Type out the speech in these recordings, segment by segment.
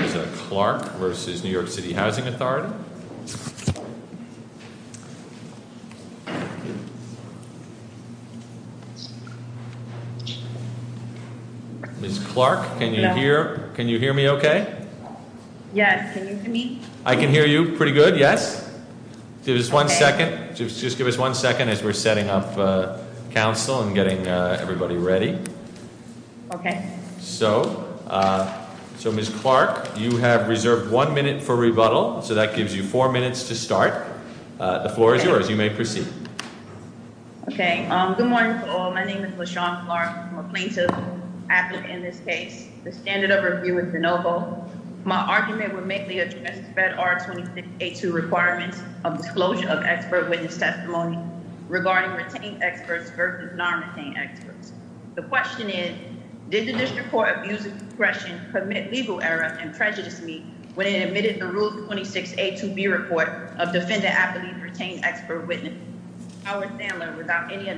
Ms. Clark v. New York City Housing Authority Ms. Clark, can you hear me okay? Yes, can you hear me? I can hear you pretty good, yes. Just give us one second as we're setting up council and getting everybody ready. Okay. So, Ms. Clark, you have reserved one minute for rebuttal, so that gives you four minutes to start. The floor is yours. You may proceed. Okay, good morning to all. My name is LaShawn Clark. I'm a plaintiff advocate in this case. The standard of review is de novo. My argument would mainly address FEDR 26A2 requirements of disclosure of expert witness testimony regarding retained experts versus non-retained experts. The question is, did the district court abuse of discretion commit legal error and prejudice me when it admitted the Rules 26A2B report of defendant-appellee retained expert witness, Howard Sandler, without any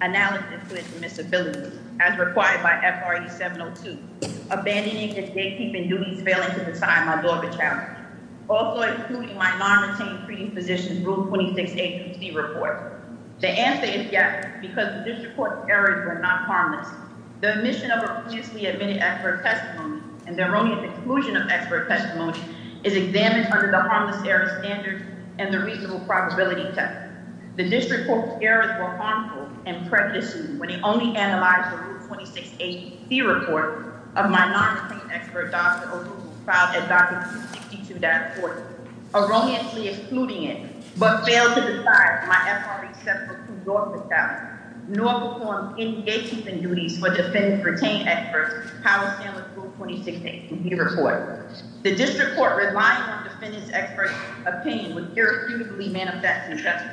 analysis of his admissibility, as required by FRE 702, abandoning his gatekeeping duties, failing to decide my lawyer challenge, also including my non-retained treating physician's Rules 26A2C report? The answer is yes, because the district court's errors were not harmless. The omission of a previously admitted expert testimony and the erroneous exclusion of expert testimony is examined under the harmless error standard and the reasonable probability test. The district court's errors were harmful and prejudiced me when it only analyzed the Rules 26A2C report of my non-retained expert, Dr. O'Rourke, filed at Docket 262.4, erroneously excluding it, but failed to decide my FRE 702 lawyer challenge, nor performed any gatekeeping duties for defendant-retained expert, Howard Sandler's Rules 26A2B report. The district court, relying on defendant's expert opinion, would irrefutably manifest an offense.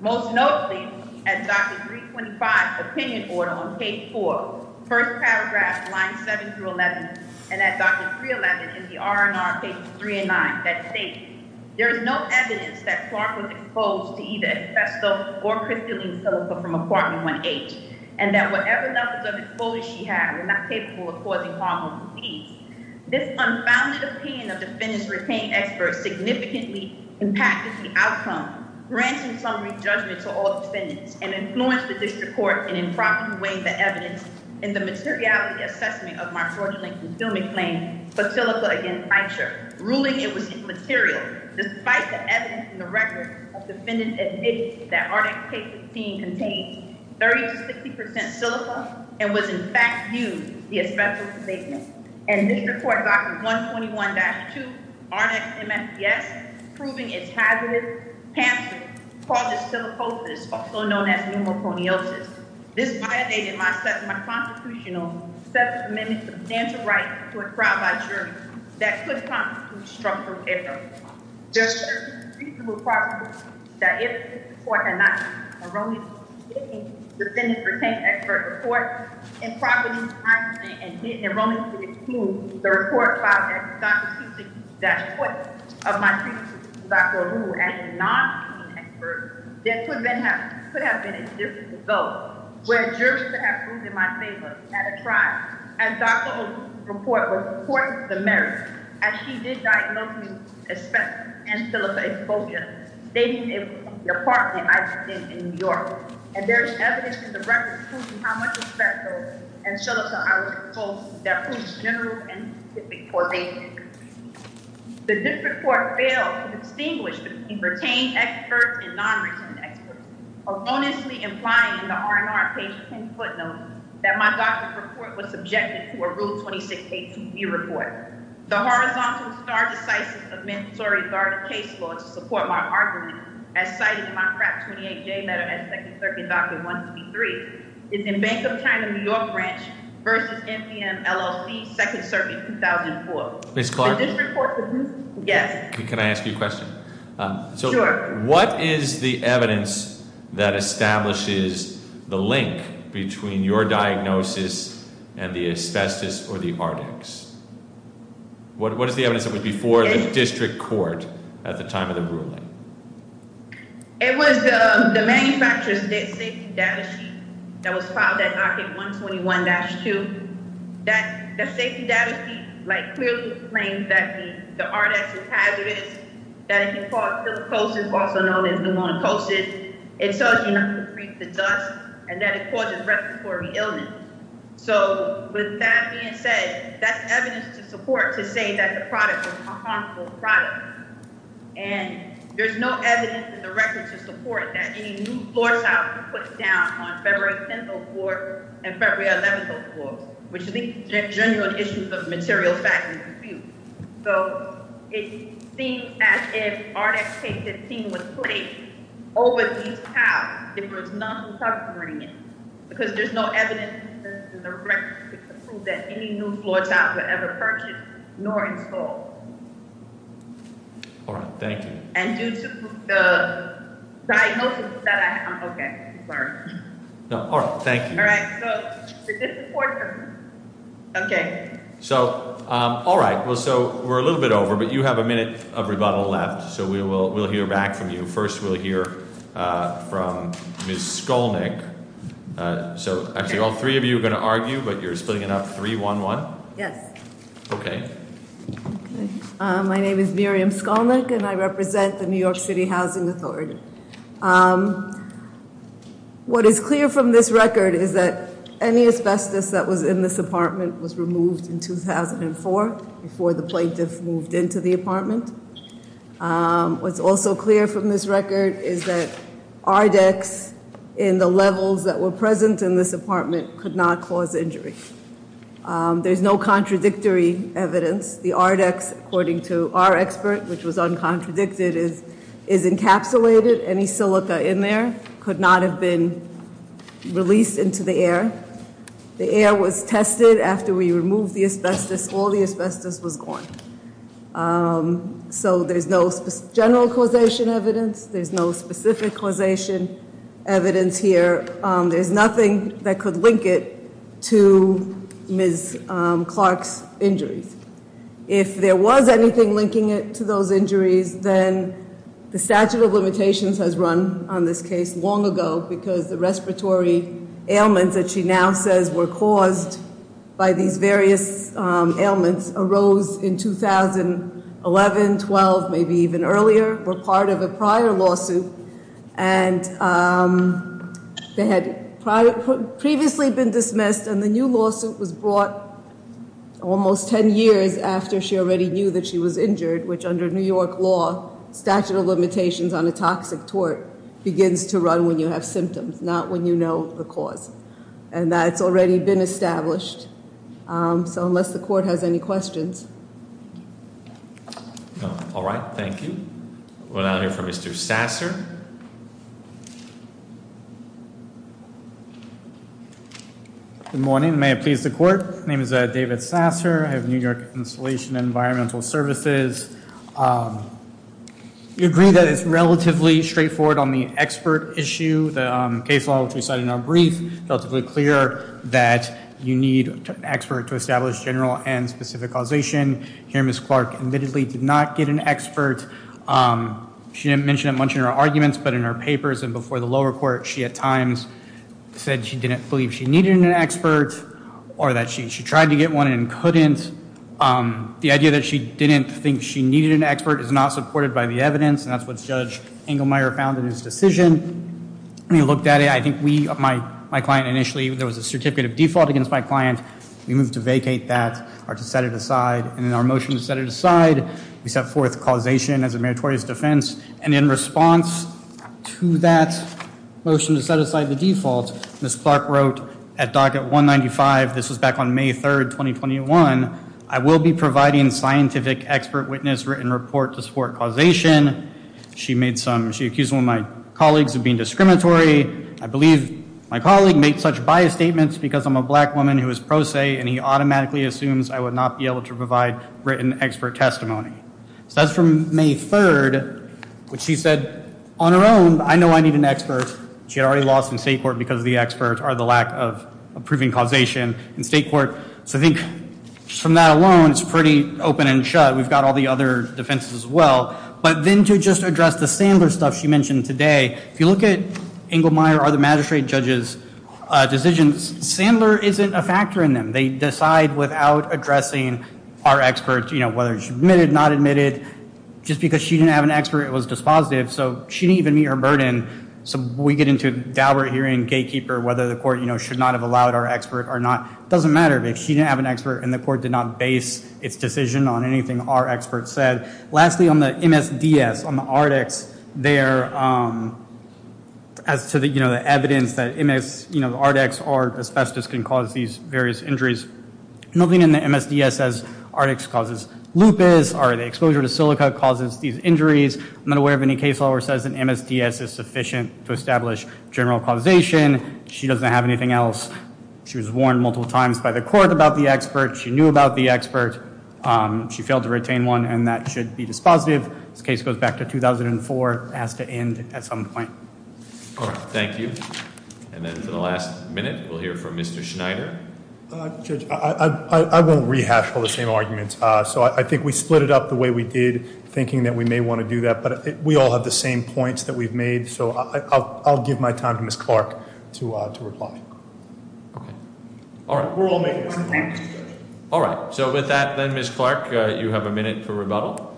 Most notably, at Docket 325, opinion order on page 4, first paragraph, lines 7 through 11, and at Docket 311 in the R&R, pages 3 and 9, that state, there is no evidence that Clark was exposed to either asbestos or crystalline silica from apartment 1H, and that whatever levels of exposure she had were not capable of causing harm or disease. This unfounded opinion of defendant-retained expert significantly impacted the outcome, granting summary judgment to all defendants, and influenced the district court in improperly weighing the evidence in the materiality assessment of my fraudulently concealment claim for silica against Eicher, ruling it was immaterial despite the evidence in the record of defendant's evidence that Arnex K-15 contains 30 to 60% silica and was in fact used as the asbestos abatement. And this report, Docket 121-2, Arnex MSPS, proving it's hazardous, pamphlet-causing silicosis, also known as pneumoconiosis. This violated my constitutional set of amendments of dental rights to a crime by jury that could constitute structural error. There should have been a reasonable possibility that if the court had not enrolled me in the K-15 defendant-retained expert report improperly, and didn't enroll me in K-15, the report filed at Docket 262-4 of my previous visit to Dr. O'Rourke as a non-K-15 expert, there could have been a different result, where a jury could have proven my favor at a trial, and Dr. O'Rourke's report was important to the merits, as she did diagnose me with asbestos and silica exposure, stating it was in the apartment I lived in in New York. And there is evidence in the record proving how much asbestos and silica I was exposed that proves general and specific correlation. The district court failed to distinguish between retained experts and non-retained experts, erroneously implying in the R&R Page 10 footnote that my doctorate report was subjected to a Rule 26A2B report. The horizontal star decisive of mandatory guarded case law to support my argument, as cited in my FRAP 28J letter at 2nd Circuit Doctrine 123, is in Bank of China, New York Branch, v. NPM, LLC, 2nd Circuit, 2004. Ms. Clark? The district court produced this? Yes. Can I ask you a question? Sure. What is the evidence that establishes the link between your diagnosis and the asbestos or the Ardex? What is the evidence that was before the district court at the time of the ruling? It was the manufacturer's safety data sheet that was filed at Arte 121-2. The safety data sheet clearly claims that the Ardex is hazardous, that it can cause silicosis, also known as pneumonocosis. It tells you not to breathe the dust and that it causes respiratory illness. So with that being said, that's evidence to support to say that the product was a harmful product. And there's no evidence in the record to support that any new floor tile could be put down on February 10th or 4th and February 11th or 4th, which leads to genuine issues of material fact and dispute. So it seems as if Ardex K-15 was placed over these tiles if there was none supporting it, because there's no evidence in the record to prove that any new floor tile was ever purchased nor installed. All right. Thank you. And due to the diagnosis that I have, I'm okay. Sorry. No. All right. Thank you. All right. So the district court, okay. So all right. Well, so we're a little bit over, but you have a minute of rebuttal left, so we will hear back from you. First, we'll hear from Ms. Skolnick. So actually all three of you are going to argue, but you're splitting it up 3-1-1? Yes. Okay. My name is Miriam Skolnick, and I represent the New York City Housing Authority. What is clear from this record is that any asbestos that was in this apartment was removed in 2004 before the plaintiff moved into the apartment. What's also clear from this record is that Ardex in the levels that were present in this apartment could not cause injury. There's no contradictory evidence. The Ardex, according to our expert, which was uncontradicted, is encapsulated. Any silica in there could not have been released into the air. The air was tested after we removed the asbestos. All the asbestos was gone. So there's no general causation evidence. There's no specific causation evidence here. There's nothing that could link it to Ms. Clark's injuries. If there was anything linking it to those injuries, then the statute of limitations has run on this case long ago because the respiratory ailments that she now says were caused by these various ailments arose in 2011, 12, maybe even earlier, were part of a prior lawsuit. And they had previously been dismissed, and the new lawsuit was brought almost ten years after she already knew that she was injured, which under New York law, statute of limitations on a toxic tort begins to run when you have symptoms, not when you know the cause. And that's already been established. So unless the court has any questions. All right. Thank you. We'll now hear from Mr. Sasser. Good morning. May it please the court. My name is David Sasser. I have New York Installation and Environmental Services. We agree that it's relatively straightforward on the expert issue. The case law, which we cited in our brief, relatively clear that you need an expert to establish general and specific causation. Here Ms. Clark admittedly did not get an expert. She didn't mention it much in her arguments, but in her papers and before the lower court, she at times said she didn't believe she needed an expert or that she tried to get one and couldn't. The idea that she didn't think she needed an expert is not supported by the evidence. And that's what Judge Engelmeyer found in his decision. He looked at it. I think we, my client initially, there was a certificate of default against my client. We moved to vacate that or to set it aside. And in our motion to set it aside, we set forth causation as a meritorious defense. And in response to that motion to set aside the default, Ms. Clark wrote at docket 195, this was back on May 3rd, 2021, I will be providing scientific expert witness written report to support causation. She made some, she accused one of my colleagues of being discriminatory. I believe my colleague made such biased statements because I'm a black woman who is pro se, and he automatically assumes I would not be able to provide written expert testimony. So that's from May 3rd, which she said on her own, I know I need an expert. She had already lost in state court because the experts are the lack of proving causation in state court. So I think from that alone, it's pretty open and shut. We've got all the other defenses as well. But then to just address the Sandler stuff she mentioned today, if you look at Engelmeyer or the magistrate judge's decisions, Sandler isn't a factor in them. They decide without addressing our experts, you know, whether it's admitted, not admitted. Just because she didn't have an expert, it was dispositive, so she didn't even meet her burden. So we get into a dour hearing, gatekeeper, whether the court, you know, should not have allowed our expert or not. It doesn't matter. If she didn't have an expert and the court did not base its decision on anything our expert said. Lastly, on the MSDS, on the ARDEX, there, as to the, you know, the evidence that MS, you know, ARDEX or asbestos can cause these various injuries, nothing in the MSDS says ARDEX causes lupus or the exposure to silica causes these injuries. I'm not aware of any case law where it says an MSDS is sufficient to establish general causation. She doesn't have anything else. She was warned multiple times by the court about the expert. She knew about the expert. She failed to retain one, and that should be dispositive. This case goes back to 2004. It has to end at some point. All right. Thank you. And then for the last minute, we'll hear from Mr. Schneider. Judge, I won't rehash all the same arguments. So I think we split it up the way we did, thinking that we may want to do that. But we all have the same points that we've made. So I'll give my time to Ms. Clark to reply. Okay. All right. We're all making the same points. All right. So with that, then, Ms. Clark, you have a minute to rebuttal.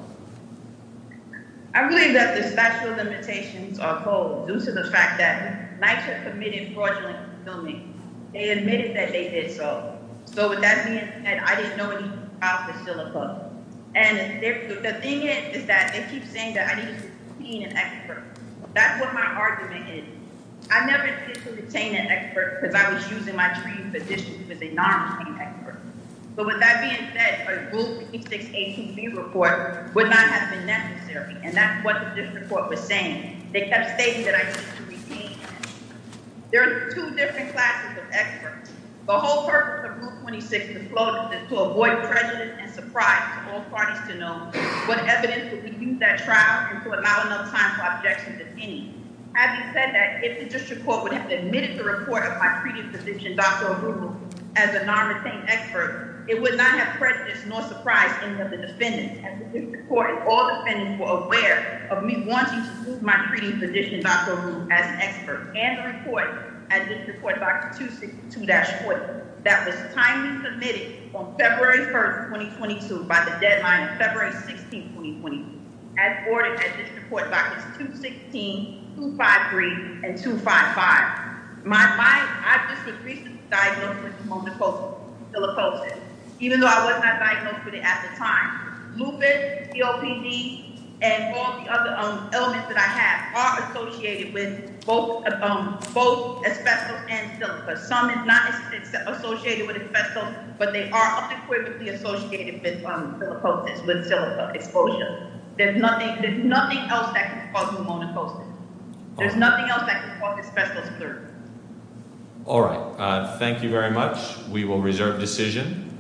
I believe that the special limitations are posed due to the fact that NYCHA committed fraudulent filming. They admitted that they did so. So with that being said, I didn't know any of the files were still above me. And the thing is that they keep saying that I need to retain an expert. That's what my argument is. I never did retain an expert because I was using my treating physicians as a non-retaining expert. But with that being said, a Rule 3618B report would not have been necessary. And that's what this report was saying. They kept stating that I needed to retain an expert. There are two different classes of experts. The whole purpose of Rule 26 is to avoid prejudice and surprise to all parties to know what evidence would be used at trial and to allow enough time for objections if any. Having said that, if the district court would have admitted the report of my treating physician, Dr. Arun, as a non-retained expert, it would not have prejudice nor surprise any of the defendants. And the district court and all defendants were aware of me wanting to use my treating physician, Dr. Arun, as an expert. And the report at District Court Box 262-40 that was timely submitted on February 1, 2022 by the deadline February 16, 2020, as ordered at District Court Boxes 216, 253, and 255. I just was recently diagnosed with pneumococcal psilocybin, even though I was not diagnosed with it at the time. Lupus, COPD, and all the other elements that I have are associated with both asbestos and silica. Some is not associated with asbestos, but they are unequivocally associated with silicosis, with silica exposure. There's nothing else that can cause pneumococcus. There's nothing else that can cause asbestos, clearly. All right, thank you very much. We will reserve decision.